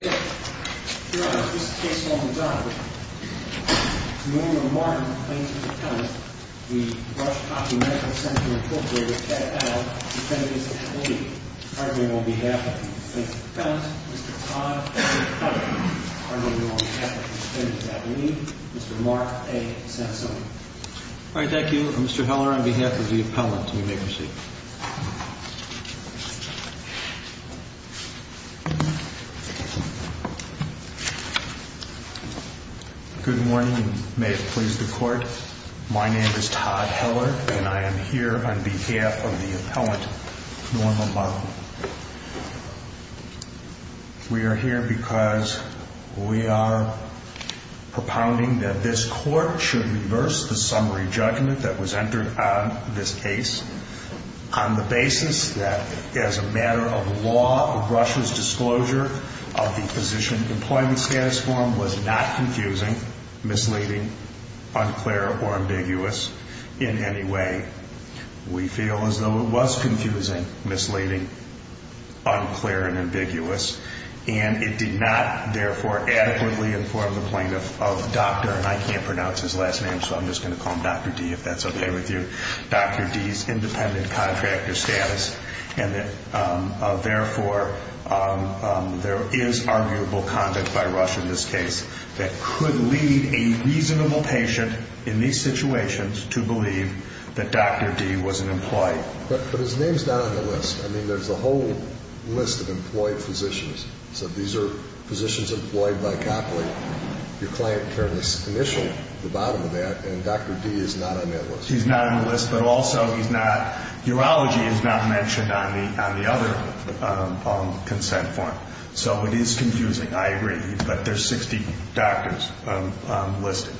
The Rush-Copley Medical Center, Inc. with Pat Heller, Defendant's Affiliate. Hardly on behalf of the Defendant's Affiliate, Mr. Todd Heller. Hardly on behalf of the Defendant's Affiliate, Mr. Mark A. Sansoni. All right, thank you. Mr. Heller, on behalf of the Appellant, you may proceed. Good morning, and may it please the Court. My name is Todd Heller, and I am here on behalf of the Appellant, Norma Lovell. We are here because we are propounding that this Court should reverse the summary judgment that was entered on this case on the basis that, as a matter of law, Rush's disclosure of the Physician Employment Status Form was not confusing, misleading, unclear, or ambiguous in any way. We feel as though it was confusing, misleading, unclear, and ambiguous, and it did not, therefore, adequately inform the Plaintiff of Dr., and I can't pronounce his last name, so I'm just going to call him Dr. D., if that's okay with you, Dr. D.'s independent contractor status, and that, therefore, there is arguable conduct by Rush in this case that could lead a reasonable patient in these situations to believe that Dr. D. was an employee. But his name's not on the list. I mean, there's a whole list of employed physicians. So these are physicians employed by Copley. Your client turned the initial, the bottom of that, and Dr. D. is not on that list. He's not on the list, but also he's not, urology is not mentioned on the other consent form. So it is confusing, I agree, but there's 60 doctors listed.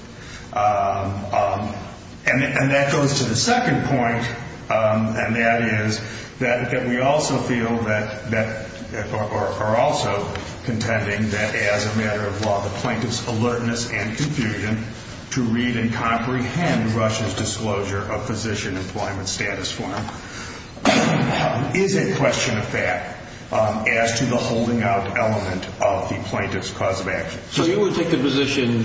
And that goes to the second point, and that is that we also feel that, or are also contending that as a matter of law, the Plaintiff's alertness and confusion to read and comprehend Rush's disclosure of Physician Employment Status Form is a question of fact as to the holding out element of the Plaintiff's cause of action. So you would take the position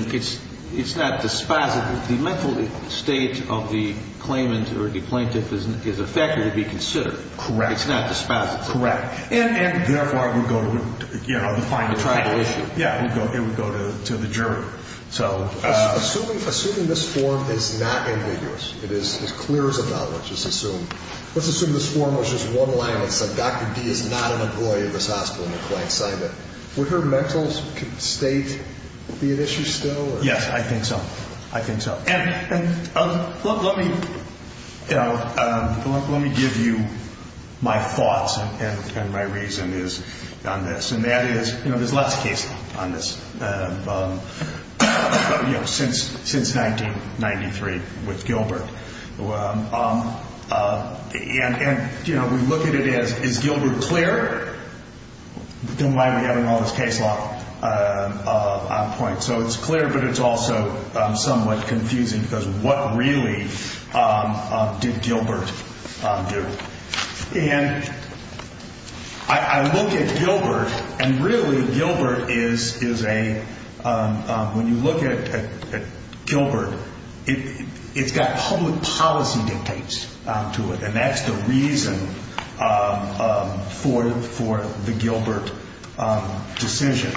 it's not dispositive. The mental state of the claimant or the Plaintiff is a factor to be considered. Correct. It's not dispositive. Correct. And, therefore, it would go to, you know, the final panel. The tribal issue. Yeah, it would go to the jury. Assuming this form is not ambiguous, it is clear as a bell, let's assume this form was just one line that said, Dr. D. is not an employee of this hospital and the client signed it, would her mental state be an issue still? Yes, I think so. I think so. And let me give you my thoughts and my reason is on this, and that is, you know, there's lots of cases on this. You know, since 1993 with Gilbert. And, you know, we look at it as, is Gilbert clear? Don't mind me having all this case law on point. So it's clear, but it's also somewhat confusing because what really did Gilbert do? And I look at Gilbert, and really Gilbert is a, when you look at Gilbert, it's got public policy dictates to it, and that's the reason for the Gilbert decision.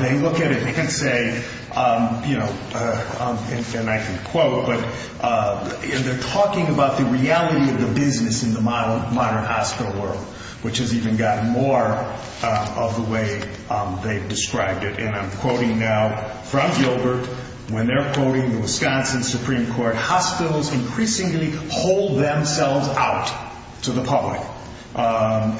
They look at it and say, you know, and I can quote, but they're talking about the reality of the business in the modern hospital world, which has even gotten more of the way they've described it. And I'm quoting now from Gilbert when they're quoting the Wisconsin Supreme Court, hospitals increasingly hold themselves out to the public.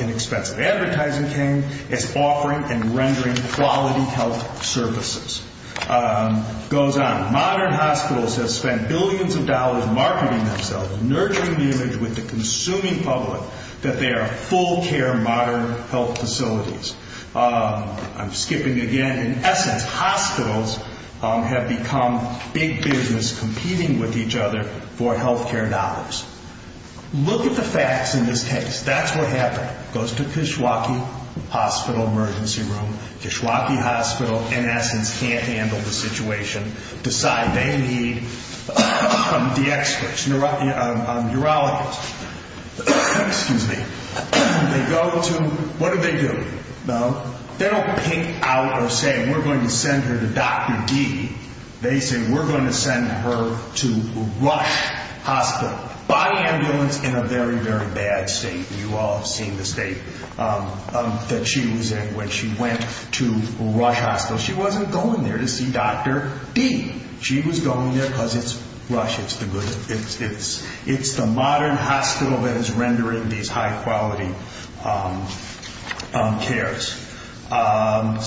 Inexpensive advertising came as offering and rendering quality health services. It goes on, modern hospitals have spent billions of dollars marketing themselves, nurturing the image with the consuming public that they are full care modern health facilities. I'm skipping again. In essence, hospitals have become big business competing with each other for health care dollars. Look at the facts in this case. That's what happened. Goes to Kishwaukee Hospital emergency room. Kishwaukee Hospital, in essence, can't handle the situation. Decide they need the experts, urologists. Excuse me. They go to, what do they do? They don't pink out or say we're going to send her to Dr. D. They say we're going to send her to Rush Hospital. Body ambulance in a very, very bad state. You all have seen the state that she was in when she went to Rush Hospital. She wasn't going there to see Dr. D. She was going there because it's Rush. It's the modern hospital that is rendering these high quality cares. And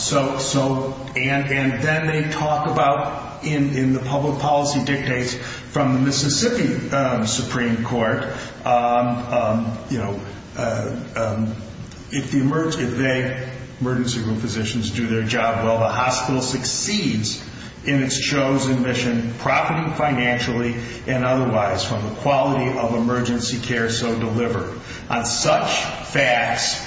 then they talk about, in the public policy dictates from the Mississippi Supreme Court, if they, emergency room physicians, do their job well, the hospital succeeds in its chosen mission, profiting financially and otherwise from the quality of emergency care so delivered. On such facts,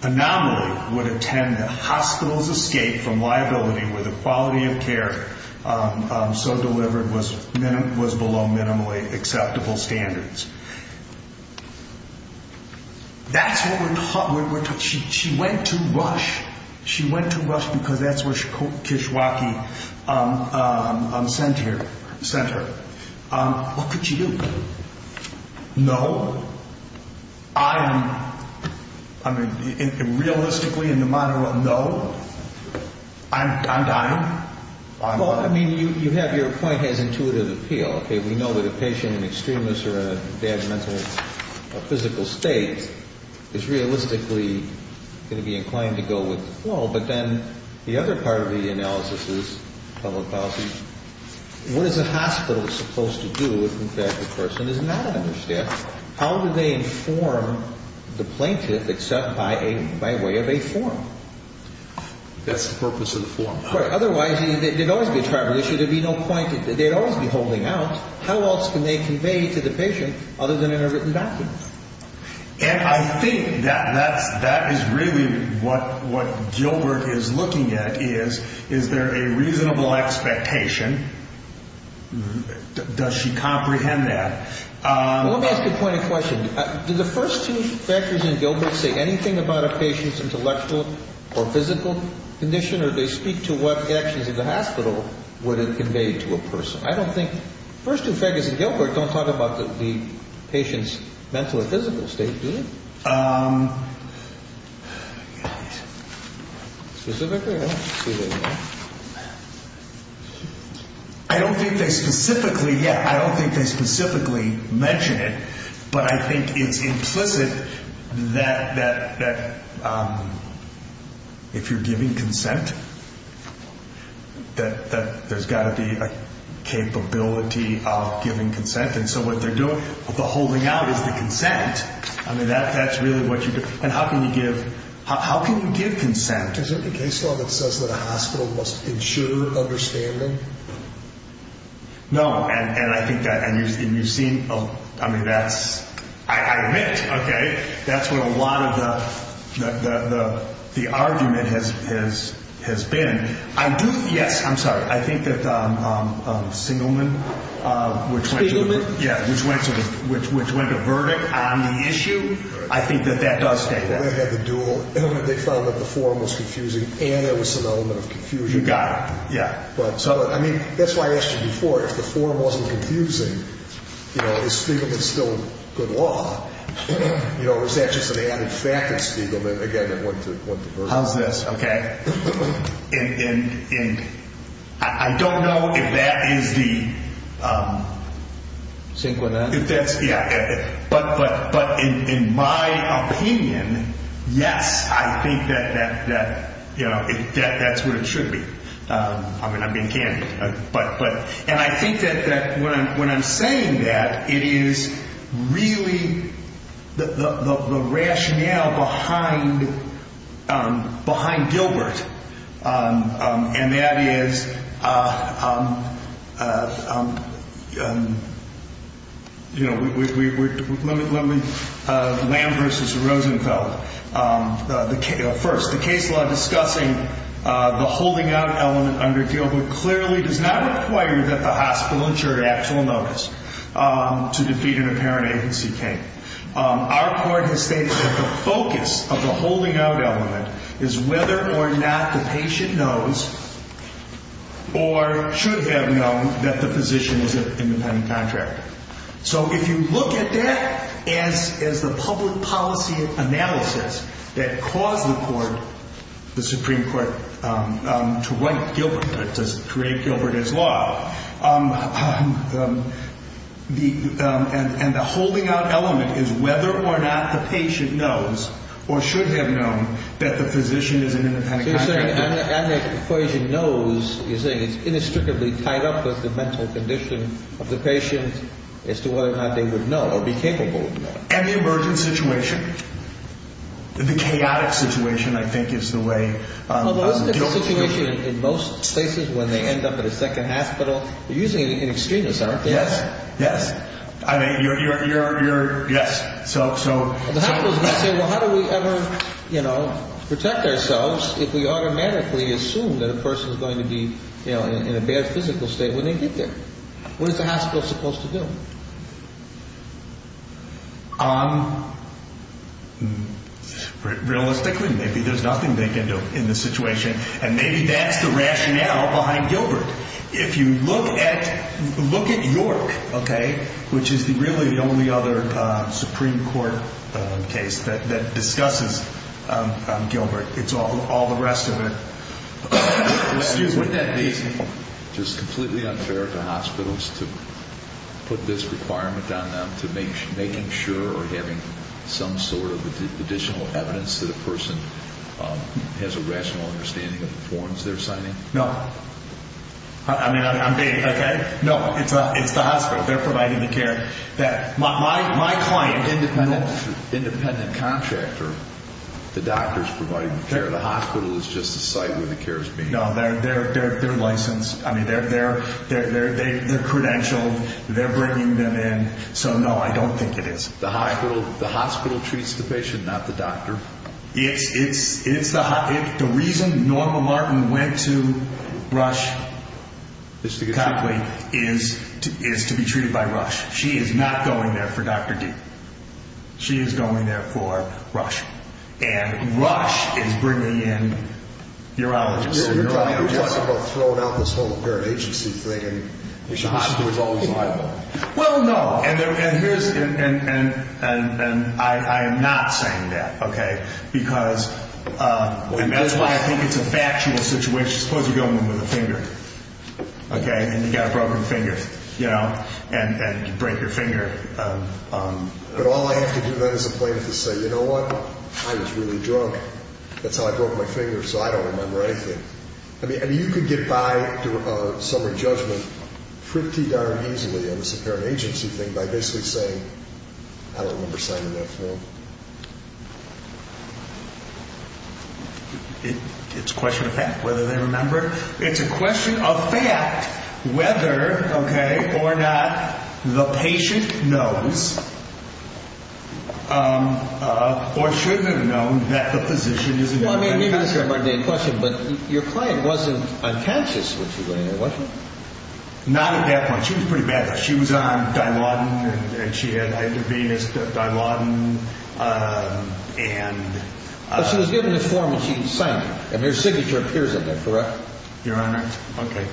anomaly would attend the hospital's escape from liability where the quality of care so delivered was below minimally acceptable standards. That's what we're taught. She went to Rush. She went to Rush because that's where Kishwaukee sent her. What could she do? No. I'm, I mean, realistically in the modern world, no. I'm dying. Well, I mean, you have your point as intuitive appeal. We know that a patient in extremis or in a bad mental or physical state is realistically going to be inclined to go with the flow. But then the other part of the analysis is public policy. What is a hospital supposed to do if the person is not understaffed? How do they inform the plaintiff except by way of a form? That's the purpose of the form. Otherwise, there'd always be a tribal issue. There'd be no point. They'd always be holding out. How else can they convey to the patient other than in a written document? And I think that is really what Gilbert is looking at is, is there a reasonable expectation? Does she comprehend that? Well, let me ask you a point of question. Do the first two factors in Gilbert say anything about a patient's intellectual or physical condition? Or do they speak to what actions of the hospital would it convey to a person? I don't think, the first two factors in Gilbert don't talk about the patient's mental or physical state, do they? Specifically? I don't think they specifically, yeah, I don't think they specifically mention it. But I think it's implicit that if you're giving consent, that there's got to be a capability of giving consent. And so what they're doing, the holding out is the consent. I mean, that's really what you, and how can you give, how can you give consent? Is it the case law that says that a hospital must ensure understanding? No, and I think that, and you've seen, I mean, that's, I admit, okay, that's what a lot of the argument has been. I do, yes, I'm sorry, I think that Singelman, which went to the, yeah, which went to the, which went to verdict on the issue, I think that that does state that. They had the dual, they found that the form was confusing, and there was some element of confusion. You got it, yeah. But, so, I mean, that's why I asked you before, if the form wasn't confusing, you know, is Spiegelman still good law? You know, or is that just an added fact that Spiegelman, again, that went to, went to verdict? How's this, okay? And I don't know if that is the, if that's, yeah, but in my opinion, yes, I think that, you know, that's what it should be. I mean, I'm being candid. And I think that when I'm saying that, it is really the rationale behind, behind Gilbert, and that is, you know, let me, let me, Lamb versus Rosenfeld. First, the case law discussing the holding out element under Gilbert clearly does not require that the hospital ensure actual notice to defeat an apparent agency claim. Our court has stated that the focus of the holding out element is whether or not the patient knows, or should have known, that the physician is an independent contractor. So if you look at that as, as the public policy analysis that caused the court, the Supreme Court, to write Gilbert, to create Gilbert as law, the, and the holding out element is whether or not the patient knows, or should have known, that the physician is an independent contractor. You're saying, and the equation knows, you're saying it's inextricably tied up with the mental condition of the patient as to whether or not they would know, or be capable of knowing. Any emergent situation, the chaotic situation, I think, is the way Gilbert's position is. Although isn't it the situation in most cases when they end up at a second hospital? You're using an extremist, aren't you? Yes, yes. I mean, you're, you're, you're, you're, yes, so, so. The hospital's going to say, well, how do we ever, you know, protect ourselves if we automatically assume that a person's going to be, you know, in a bad physical state when they get there? What is the hospital supposed to do? Realistically, maybe there's nothing they can do in this situation. And maybe that's the rationale behind Gilbert. If you look at, look at York, okay, which is the really the only other Supreme Court case that, that discusses Gilbert. It's all, all the rest of it. Excuse me. Wouldn't that be just completely unfair to hospitals to put this requirement on them to make, making sure or having some sort of additional evidence that a person has a rational understanding of the forms they're signing? No. I mean, I'm being, okay. No, it's, it's the hospital. They're providing the care that my, my, my client, independent, independent contractor, the doctor's providing the care. The hospital is just a site where the care is being provided. No, they're, they're, they're, they're licensed. I mean, they're, they're, they're, they're credentialed. They're bringing them in. So, no, I don't think it is. The hospital, the hospital treats the patient, not the doctor. It's, it's, it's the, the reason Norma Martin went to Rush is to be treated by Rush. She is not going there for Dr. D. She is going there for Rush. And Rush is bringing in urologists. You're talking about throwing out this whole current agency thing and the hospital is always liable. Well, no. And, and, and, and, and I, I am not saying that, okay, because, and that's why I think it's a factual situation. Suppose you're going in with a finger, okay, and you've got a broken finger, you know, and, and you break your finger. But all I have to do then is a plaintiff to say, you know what, I was really drunk. That's how I broke my finger, so I don't remember anything. I mean, you could get by a summary judgment pretty darn easily on this current agency thing by basically saying, I don't remember signing that form. It's a question of fact whether they remember. It's a question of fact whether, okay, or not the patient knows or shouldn't have known that the physician is involved. Well, I mean, maybe that's a mundane question, but your client wasn't unconscious when she went in there, was she? Not at that point. She was pretty bad. She was on Dilaudid and she had either venous Dilaudid and. But she was given a form and she signed it. And her signature appears in there, correct? Your Honor. Okay.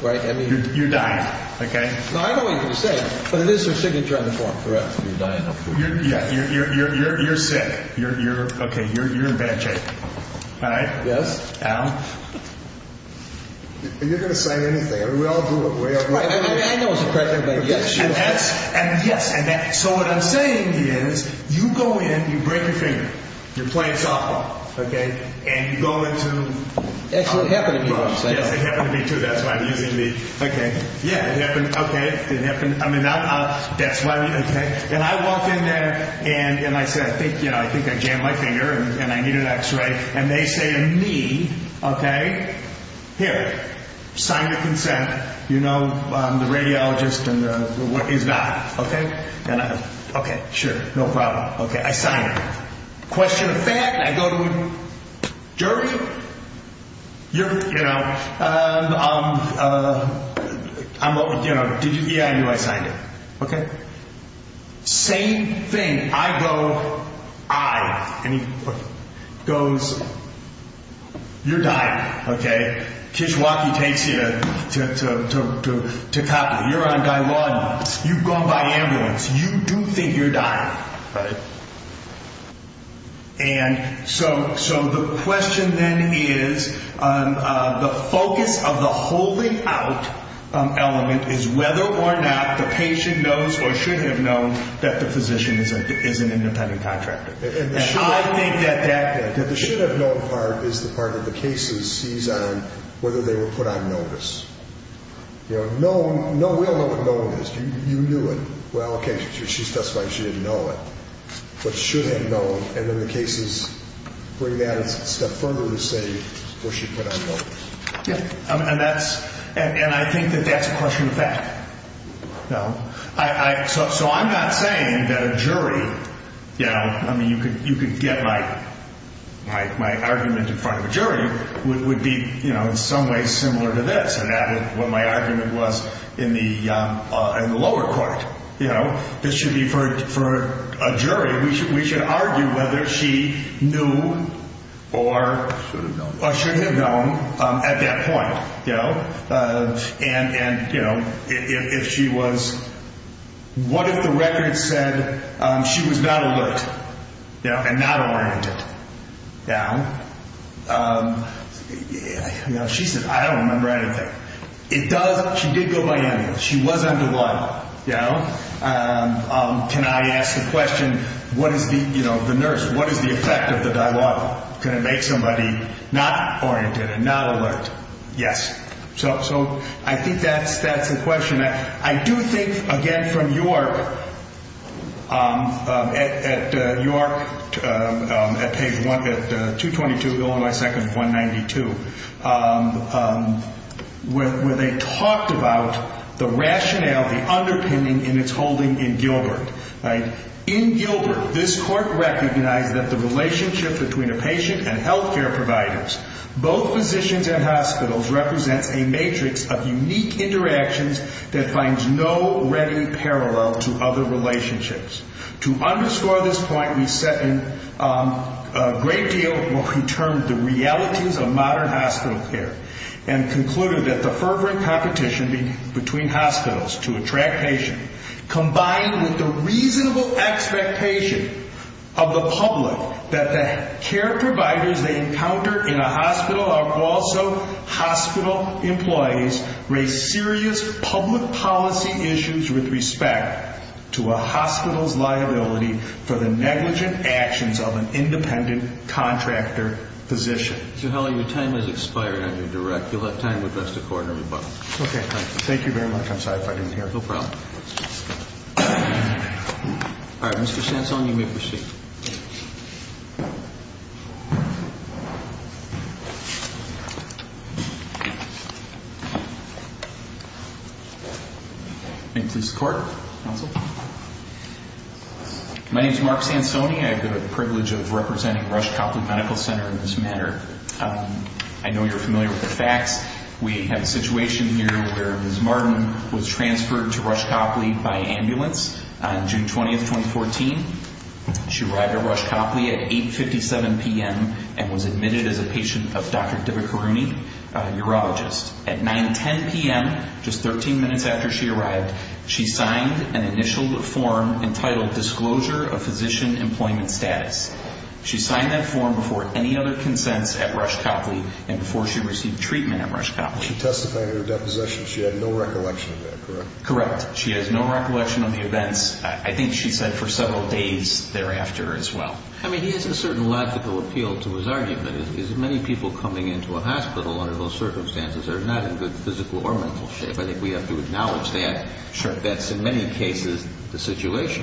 Right. I mean. You're dying, okay? No, I know what you're going to say, but it is her signature on the form, correct? You're dying, of course. Yeah. You're, you're, you're, you're sick. You're, you're, okay. You're, you're in bad shape. All right? Yes. Al? You're going to say anything. I mean, we all do it. We all do it. I mean, I know it's a cracker, but yes. And that's, and yes. And that, so what I'm saying is you go in, you break your finger. You're playing softball. Okay. And you go into. Actually, it happened to me once. Yes, it happened to me too. That's why I'm using the, okay. Yeah, it happened. Okay. It happened. I mean, that's why we, okay. And I walked in there and, and I said, thank you. And I said, thank you. And I said, thank you for a question. You can't do that. So, I think I jammed my finger, and I needed an x-ray, and they say to me, okay, here, sign your consent. You know, I'm the radiologist and the, is not. Okay? And I, okay sure, no problem. Okay. I sign it. Question of fact, I go to a jury. You're, you know, I'm, you know, did you, yeah, I knew I signed it. Okay? Same thing. I go, I, and he goes, you're dying, okay? Kishwaukee takes you to, to, to, to, to, to copy, you're on Guy Lawdon, you've gone by ambulance, you do think you're dying, right? And so, so the question then is, the focus of the holding out element is whether or not the patient knows or should have known that the physician is a, is an independent contractor. And I think that that, that the should have known part is the part that the cases sees on whether they were put on notice. You know, known, no, we all know what known is. You knew it. Well, okay, she's testifying she didn't know it, but should have known, and then the cases bring that a step further and say, well, she put on notice. Yeah. And that's, and I think that that's a question of fact. No, I, I, so, so I'm not saying that a jury, you know, I mean, you could, you could get my, my, my argument in front of a jury would, would be, you know, in some ways similar to this and added what my argument was in the, in the lower court, you know, this should be for, for a jury, we should, we should argue whether she knew or should have known at that point, you know, and, and, you know, if, if, if she was, what if the record said she was not alert, you know, and not oriented down, you know, she said, I don't remember anything. It does. She did go by ambulance. She was on the line. Yeah. Can I ask the question? What is the, you know, the nurse, what is the effect of the dialogue? Can it make somebody not oriented and not alert? Yes. So, so I think that's, that's the question. I do think, again, from York, at, at York, at page one, at 222, Illinois second, 192, where, where they talked about the rationale, the underpinning in its holding in Gilbert, right? In Gilbert, this court recognized that the relationship between a patient and healthcare providers, both physicians and hospitals, represents a matrix of unique interactions that finds no ready parallel to other relationships. To underscore this point, we set in a great deal of what we termed the realities of modern hospital care and concluded that the fervor and competition between hospitals to attract patients, combined with the reasonable expectation of the public that the care providers they encounter in a hospital are also hospital employees, raise serious public policy issues with respect to a hospital's liability for the negligent actions of an independent contractor physician. Mr. Helley, your time has expired. I'm going to direct. You'll have time with the rest of the court and everybody. Okay. Thank you. Thank you very much. I'm sorry if I didn't hear. No problem. All right, Mr. Sansoni, you may proceed. Thank you, Mr. Court. Counsel. My name is Mark Sansoni. I have the privilege of representing Rush Copley Medical Center in this matter. I know you're familiar with the facts. We have a situation here where Ms. Martin was transferred to Rush Copley by ambulance on June 20, 2014. She arrived at Rush Copley at 8.57 p.m. and was admitted as a patient of Dr. Divakaruni, a urologist. At 9.10 p.m., just 13 minutes after she arrived, she signed an initial form entitled Disclosure of Physician Employment Status. She signed that form before any other consents at Rush Copley and before she received treatment at Rush Copley. She testified in her deposition she had no recollection of that, correct? Correct. She has no recollection of the events. I think she said for several days thereafter as well. I mean, he has a certain logical appeal to his argument. Many people coming into a hospital under those circumstances are not in good physical or mental shape. I think we have to acknowledge that. That's in many cases the situation.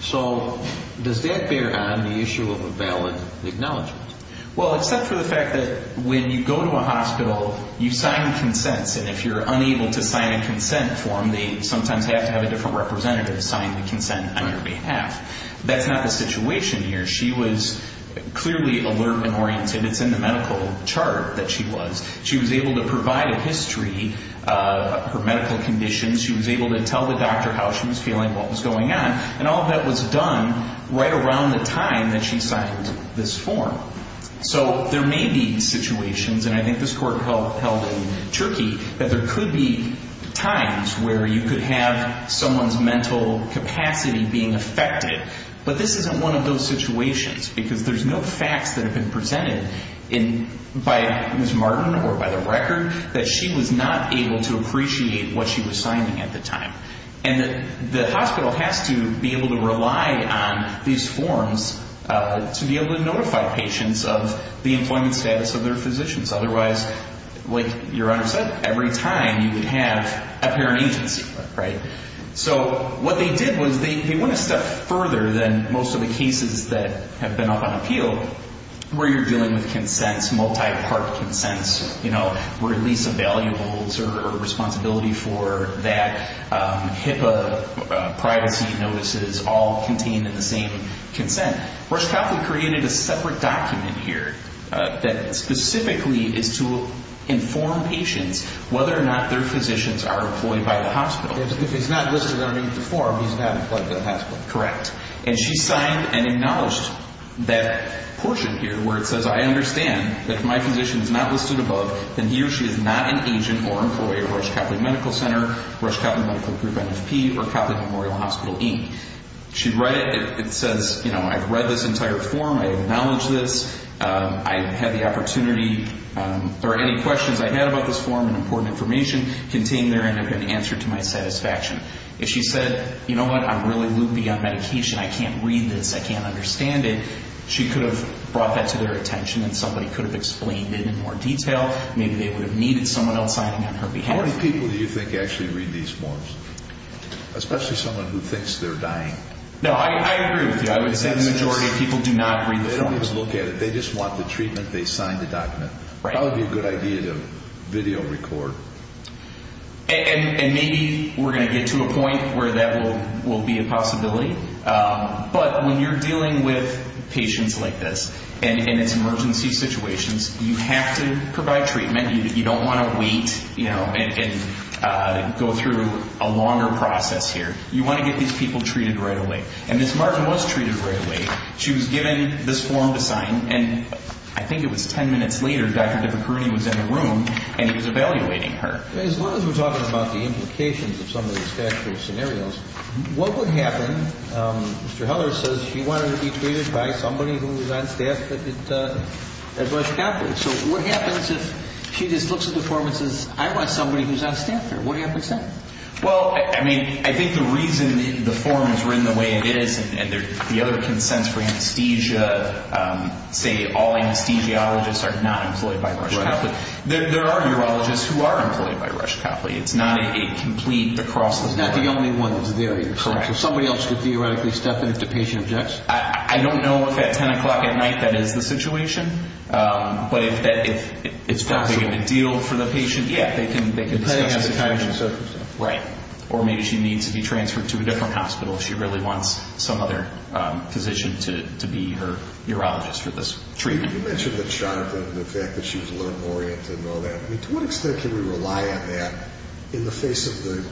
So does that bear on the issue of a valid acknowledgment? Well, except for the fact that when you go to a hospital, you sign consents. And if you're unable to sign a consent form, they sometimes have to have a different representative sign the consent on your behalf. That's not the situation here. She was clearly alert and oriented. It's in the medical chart that she was. She was able to provide a history of her medical conditions. She was able to tell the doctor how she was feeling, what was going on. And all of that was done right around the time that she signed this form. So there may be situations, and I think this court held in Turkey, that there could be times where you could have someone's mental capacity being affected. But this isn't one of those situations because there's no facts that have been presented by Ms. Martin or by the record that she was not able to appreciate what she was signing at the time. And the hospital has to be able to rely on these forms to be able to notify patients of the employment status of their physicians. Otherwise, like your Honor said, every time you would have a parent agency, right? So what they did was they went a step further than most of the cases that have been up on appeal, where you're dealing with consents, multi-part consents, release of valuables or responsibility for that, HIPAA, privacy notices, all contained in the same consent. Rush Copley created a separate document here that specifically is to inform patients whether or not their physicians are employed by the hospital. If he's not listed underneath the form, he's not employed by the hospital. Correct. And she signed and acknowledged that portion here where it says, I understand that if my agent or employer, Rush Copley Medical Center, Rush Copley Medical Group, NFP, or Copley Memorial Hospital, E. She'd write it. It says, you know, I've read this entire form. I acknowledge this. I had the opportunity or any questions I had about this form and important information contained there and have been answered to my satisfaction. If she said, you know what? I'm really loopy on medication. I can't read this. I can't understand it. She could have brought that to their attention and somebody could have explained it in more detail. Maybe they would have needed someone else signing on her behalf. How many people do you think actually read these forms? Especially someone who thinks they're dying. No, I agree with you. I would say the majority of people do not read the forms. They don't even look at it. They just want the treatment. They signed the document. Right. Probably a good idea to video record. And maybe we're going to get to a point where that will be a possibility. But when you're dealing with patients like this and it's emergency situations, you have to provide treatment. You don't want to wait and go through a longer process here. You want to get these people treated right away. And Ms. Martin was treated right away. She was given this form to sign. And I think it was ten minutes later, Dr. DiPiccironi was in the room and he was evaluating her. As long as we're talking about the implications of some of these statutory scenarios, what would happen? Mr. Heller says she wanted to be treated by somebody who was on staff at Rush Capital. So what happens if she just looks at the form and says, I want somebody who's on staff here? What happens then? Well, I mean, I think the reason the forms were in the way it is and the other consents for anesthesia, say all anesthesiologists are not employed by Rush Capital. There are urologists who are employed by Rush Capital. It's not a complete across the board. It's not the only one that's there either. Correct. So somebody else could theoretically step in if the patient objects? I don't know if at 10 o'clock at night that is the situation, but if it's probably going to deal for the patient, yeah, they can discuss it. Depending on the condition. Right. Or maybe she needs to be transferred to a different hospital if she really wants some other position to be her urologist for this treatment. You mentioned that Jonathan, the fact that she was a little oriented and all that. I mean, to what extent can we rely on that in the face of the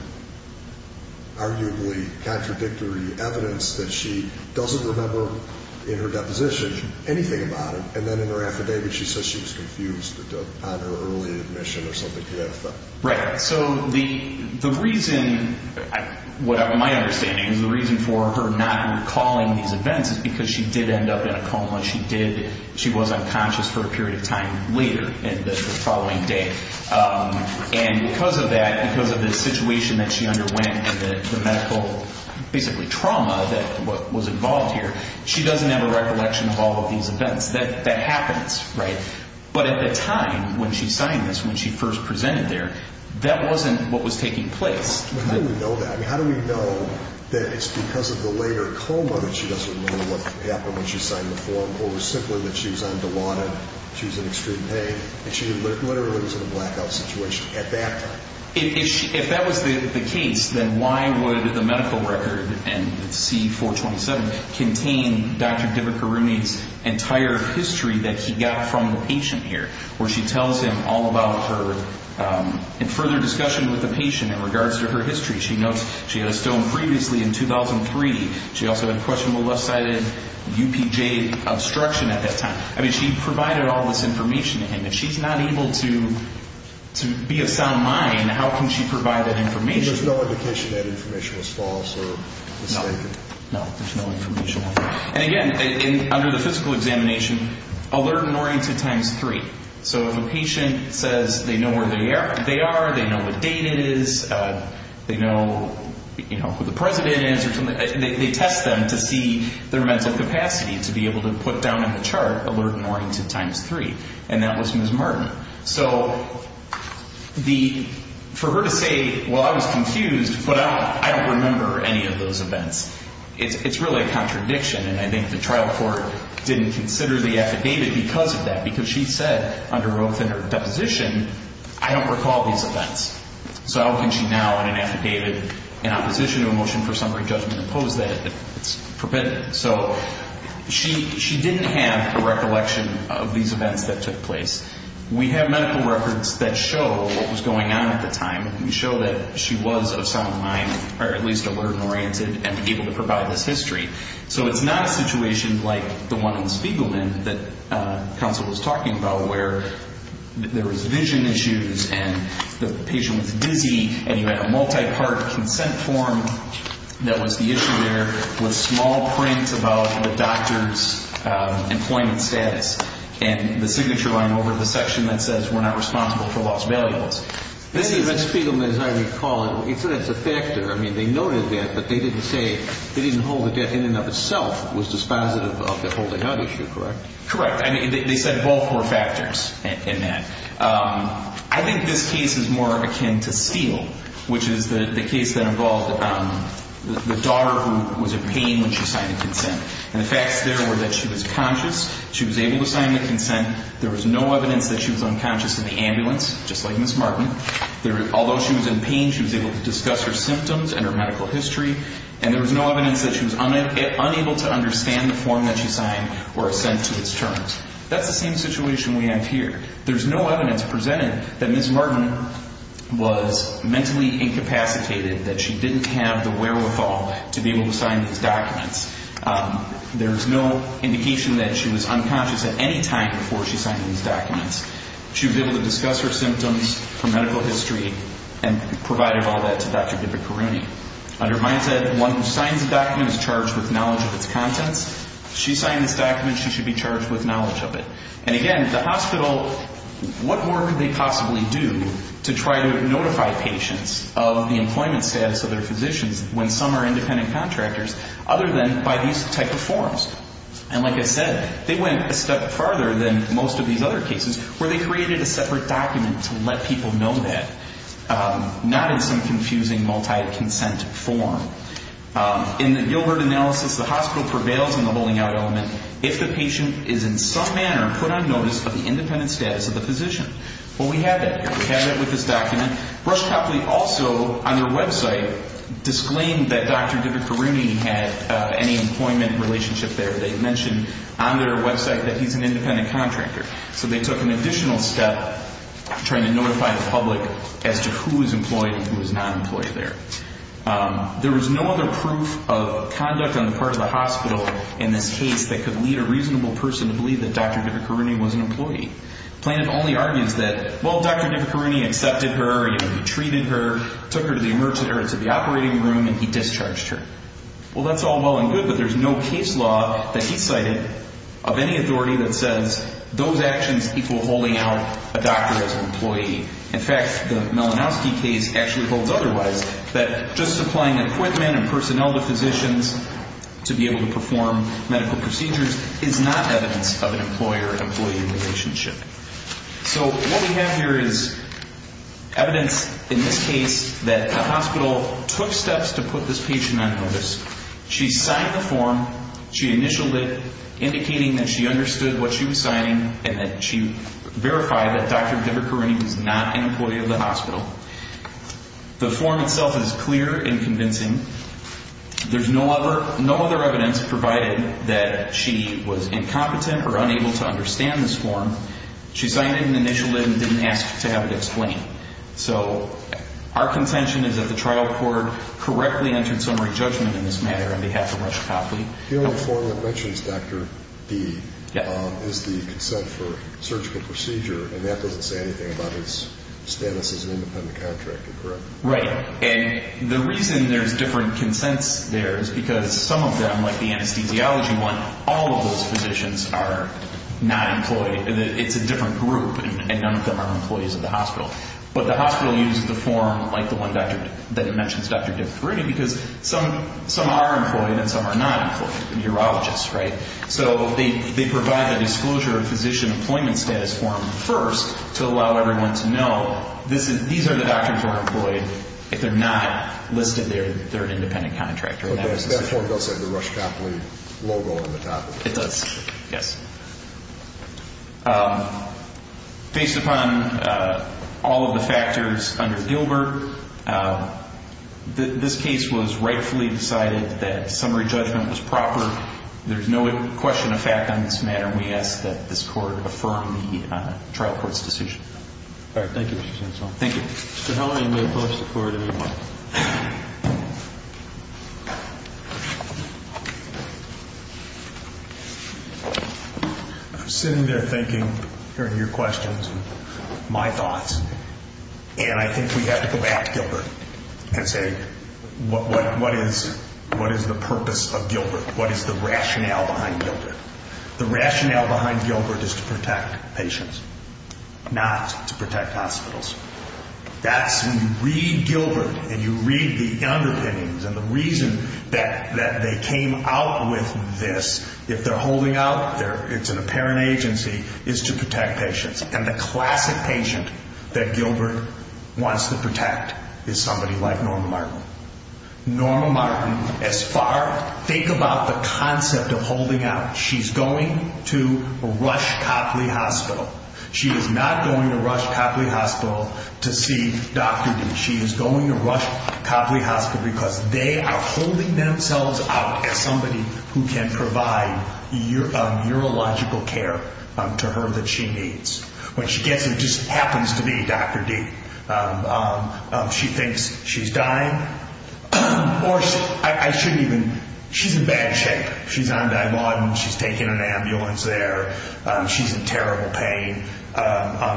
arguably contradictory evidence that she doesn't remember in her deposition anything about it and then in her affidavit she says she was confused on her early admission or something to that effect? Right. So the reason, my understanding is the reason for her not recalling these events is because she did end up in a coma. She did. She was unconscious for a period of time later in the following day. And because of that, because of the situation that she underwent and the medical, basically trauma that was involved here, she doesn't have a recollection of all of these events. That happens, right? But at the time when she signed this, when she first presented there, that wasn't what was taking place. But how do we know that? I mean, how do we know that it's because of the later coma that she doesn't remember what happened when she signed the form or simply that she was on Dilaudid, she was in extreme pain, that she literally was in a blackout situation at that time? If that was the case, then why would the medical record and C-427 contain Dr. Dibikaruni's entire history that he got from the patient here? Where she tells him all about her, in further discussion with the patient in regards to her history, she notes she had a stone previously in 2003. She also had questionable left-sided UPJ obstruction at that time. I mean, she provided all this information to him. If she's not able to be of sound mind, how can she provide that information? There's no indication that information was false or mistaken? No, there's no information. And again, under the physical examination, alert and oriented times three. So if a patient says they know where they are, they know what date it is, they know who the president is, they test them to see their mental capacity to be able to put down the chart, alert and oriented times three. And that was Ms. Martin. So for her to say, well, I was confused, but I don't remember any of those events, it's really a contradiction. And I think the trial court didn't consider the affidavit because of that. Because she said under oath in her deposition, I don't recall these events. So how can she now in an affidavit in opposition to a motion for summary judgment oppose that? It's forbidden. So she didn't have a recollection of these events that took place. We have medical records that show what was going on at the time. We show that she was of sound mind, or at least alert and oriented and able to provide this history. So it's not a situation like the one in Spiegelman that counsel was talking about where there was vision issues and the patient was dizzy and you had a multi-part consent form that was the issue there with small prints about the doctor's employment status and the signature line over the section that says we're not responsible for lost valuables. This is at Spiegelman as I recall. It's a factor. I mean, they noted that, but they didn't say they didn't hold the debt in and of itself was dispositive of the holding out issue, correct? Correct. I mean, they said both were factors in that. I think this case is more akin to Steele, which is the case that involved the daughter who was in pain when she signed the consent. And the facts there were that she was conscious. She was able to sign the consent. There was no evidence that she was unconscious in the ambulance, just like Ms. Martin. Although she was in pain, she was able to discuss her symptoms and her medical history. And there was no evidence that she was unable to understand the form that she signed or assent to its terms. That's the same situation we have here. There's no evidence presented that Ms. Martin was mentally incapacitated, that she didn't have the wherewithal to be able to sign these documents. There's no indication that she was unconscious at any time before she signed these documents. She was able to discuss her symptoms, her medical history, and provided all that to Dr. Bibikaruni. Under mine said, one who signs a document is charged with knowledge of its contents. She signed this document. She should be charged with knowledge of it. And again, the hospital, what more could they possibly do to try to notify patients of the employment status of their physicians when some are independent contractors other than by these type of forms? And like I said, they went a step farther than most of these other cases where they created a separate document to let people know that, not in some confusing multi-consent form. In the Gilbert analysis, the hospital prevails in the holding out element if the patient is in some manner put on notice of the independent status of the physician. Well, we have that here. We have that with this document. Brush Copley also, on their website, disclaimed that Dr. Bibikaruni had any employment relationship there. They mentioned on their website that he's an independent contractor. So they took an additional step trying to notify the public as to who is employed and who is not employed there. There was no other proof of conduct on the part of the hospital in this case that could lead a reasonable person to believe that Dr. Bibikaruni was an employee. Planet only argues that, well, Dr. Bibikaruni accepted her, he treated her, took her to the emergency room, to the operating room, and he discharged her. Well, that's all well and good, but there's no case law that he cited of any authority that says those actions equal holding out a doctor as an employee. In fact, the Malinowski case actually holds otherwise, that just supplying equipment and is not evidence of an employer-employee relationship. So what we have here is evidence in this case that the hospital took steps to put this patient on notice. She signed the form. She initialed it, indicating that she understood what she was signing and that she verified that Dr. Bibikaruni was not an employee of the hospital. The form itself is clear and convincing. There's no other evidence provided that she was incompetent or unable to understand this form. She signed it and initialed it and didn't ask to have it explained. So our contention is that the trial court correctly entered summary judgment in this matter on behalf of Rush Copley. The only other form that mentions Dr. B is the consent for surgical procedure, and that doesn't say anything about his status as an independent contractor, correct? Right. And the reason there's different consents there is because some of them, like the anesthesiology one, all of those physicians are not employed. It's a different group, and none of them are employees of the hospital. But the hospital uses the form like the one that mentions Dr. Bibikaruni because some are employed and some are not employed. Urologists, right? So they provide the disclosure of physician employment status form first to allow everyone to know these are the doctors who are employed if they're not listed there as an independent contractor. But that form does have the Rush Copley logo on the top of it. It does. Yes. Based upon all of the factors under Gilbert, this case was rightfully decided that summary judgment was proper. There's no question of fact on this matter, and we ask that this court affirm the trial court's decision. All right. Thank you, Mr. Gensel. Thank you. Mr. Hellery may close the court any moment. I'm sitting there thinking, hearing your questions and my thoughts, and I think we have to go back to Gilbert and say, what is the purpose of Gilbert? What is the rationale behind Gilbert? The rationale behind Gilbert is to protect patients, not to protect hospitals. That's when you read Gilbert and you read the underpinnings and the reason that they came out with this, if they're holding out, it's an apparent agency, is to protect patients. And the classic patient that Gilbert wants to protect is somebody like Norma Martin. Norma Martin, as far, think about the concept of holding out. She's going to rush Copley Hospital. She is not going to rush Copley Hospital to see Dr. D. She is going to rush Copley Hospital because they are holding themselves out as somebody who can provide urological care to her that she needs. When she gets there, it just happens to be Dr. D. She thinks she's dying, or I shouldn't even, she's in bad shape. She's on Dilaudid. She's taking an ambulance there. She's in terrible pain.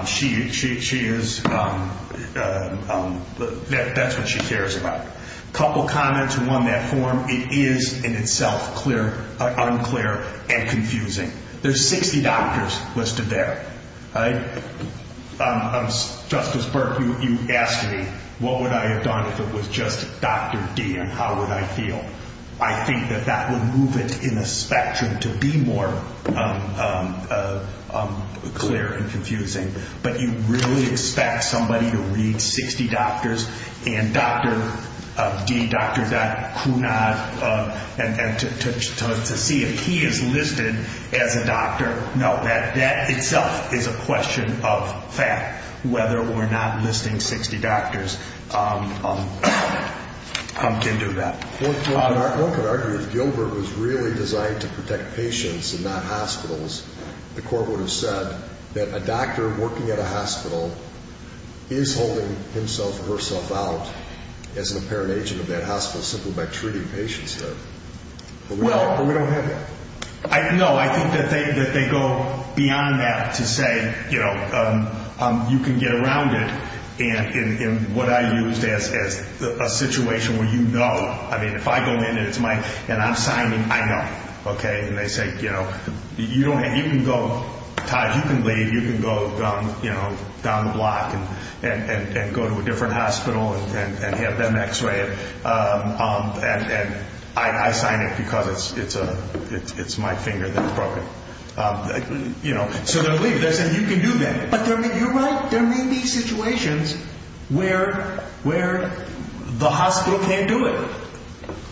She is, that's what she cares about. A couple comments on that form. It is in itself unclear and confusing. There's 60 doctors listed there. Justice Burke, you asked me, what would I have done if it was just Dr. D. And how would I feel? I think that that would move it in a spectrum to be more clear and confusing. But you really expect somebody to read 60 doctors and Dr. D., Dr. Kunad, and to see if he is listed as a doctor. No, that itself is a question of fact, whether or not listing 60 doctors comes into that. One could argue if Gilbert was really designed to protect patients and not hospitals, the court would have said that a doctor working at a hospital is holding himself or herself out as an apparent agent of that hospital simply by treating patients there. But we don't have that. No, I think that they go beyond that to say, you know, you can get around it. And what I used as a situation where you know, I mean, if I go in and it's my, and I'm signing, I know. Okay, and they say, you know, you don't have, you can go, Todd, you can leave, you can go, you know, down the block and go to a different hospital and have them x-ray it. And I sign it because it's my finger that's broken. You know, so they'll leave. They'll say, you can do that. But you're right, there may be situations where the hospital can't do it.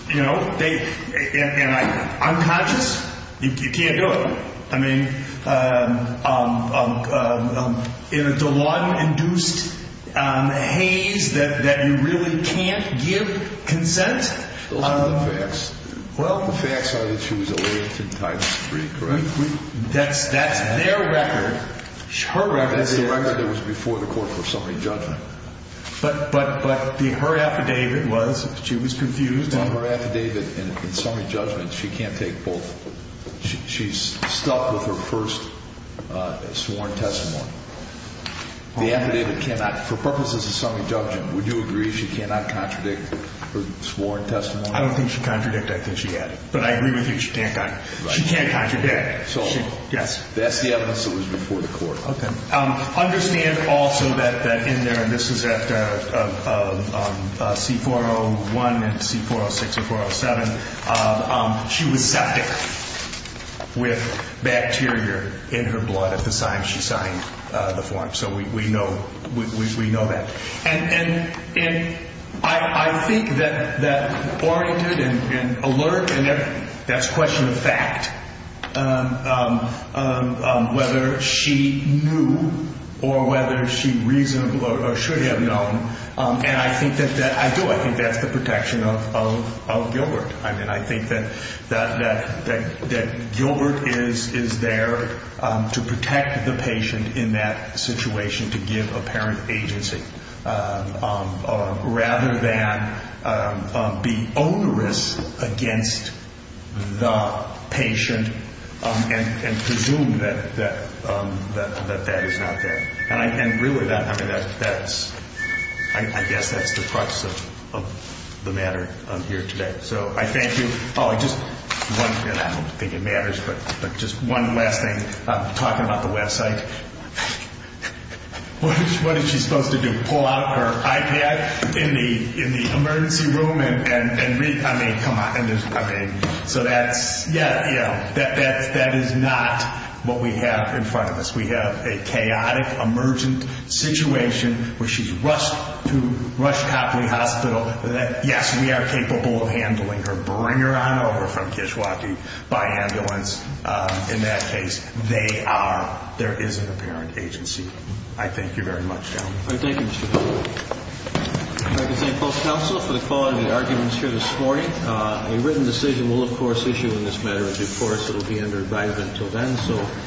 You know, they, and I'm conscious, you can't do it. I mean, in a Dewan-induced haze that you really can't give consent. A lot of the facts, the facts are that she was a latent type 3, correct? That's their record. Her record is their record. That's the record that was before the court for summary judgment. But her affidavit was, she was confused. Her affidavit and summary judgment, she can't take both. She's stuck with her first sworn testimony. The affidavit cannot, for purposes of summary judgment, would you agree she cannot contradict her sworn testimony? I don't think she contradicted it. I think she added it. But I agree with you, she can't. She can't contradict. That's the evidence that was before the court. Understand also that in there, and this is at C-401 and C-406 and C-407, she was septic with bacteria in her blood at the time she signed the form. So we know that. And I think that oriented and alert, and that's a question of fact, whether she knew or whether she should have known, and I do think that's the protection of Gilbert. I think that Gilbert is there to protect the patient in that situation, to give apparent agency, rather than be onerous against the patient and presume that that is not there. And really, I guess that's the crux of the matter here today. So I thank you. Oh, and just one, and I don't think it matters, but just one last thing. Talking about the website, what is she supposed to do? Pull out her iPad in the emergency room and read? I mean, come on. So that's, yeah, that is not what we have in front of us. We have a chaotic, emergent situation where she's rushed to Rush Copley Hospital. Yes, we are capable of handling her. Bring her on over from Kishwaukee by ambulance. In that case, they are, there is an apparent agency. I thank you very much, gentlemen. All right, thank you, Mr. Gilbert. I'd like to thank both counsel for the quality of the arguments here this morning. A written decision will, of course, issue in this matter a due course. It will be under dive until then.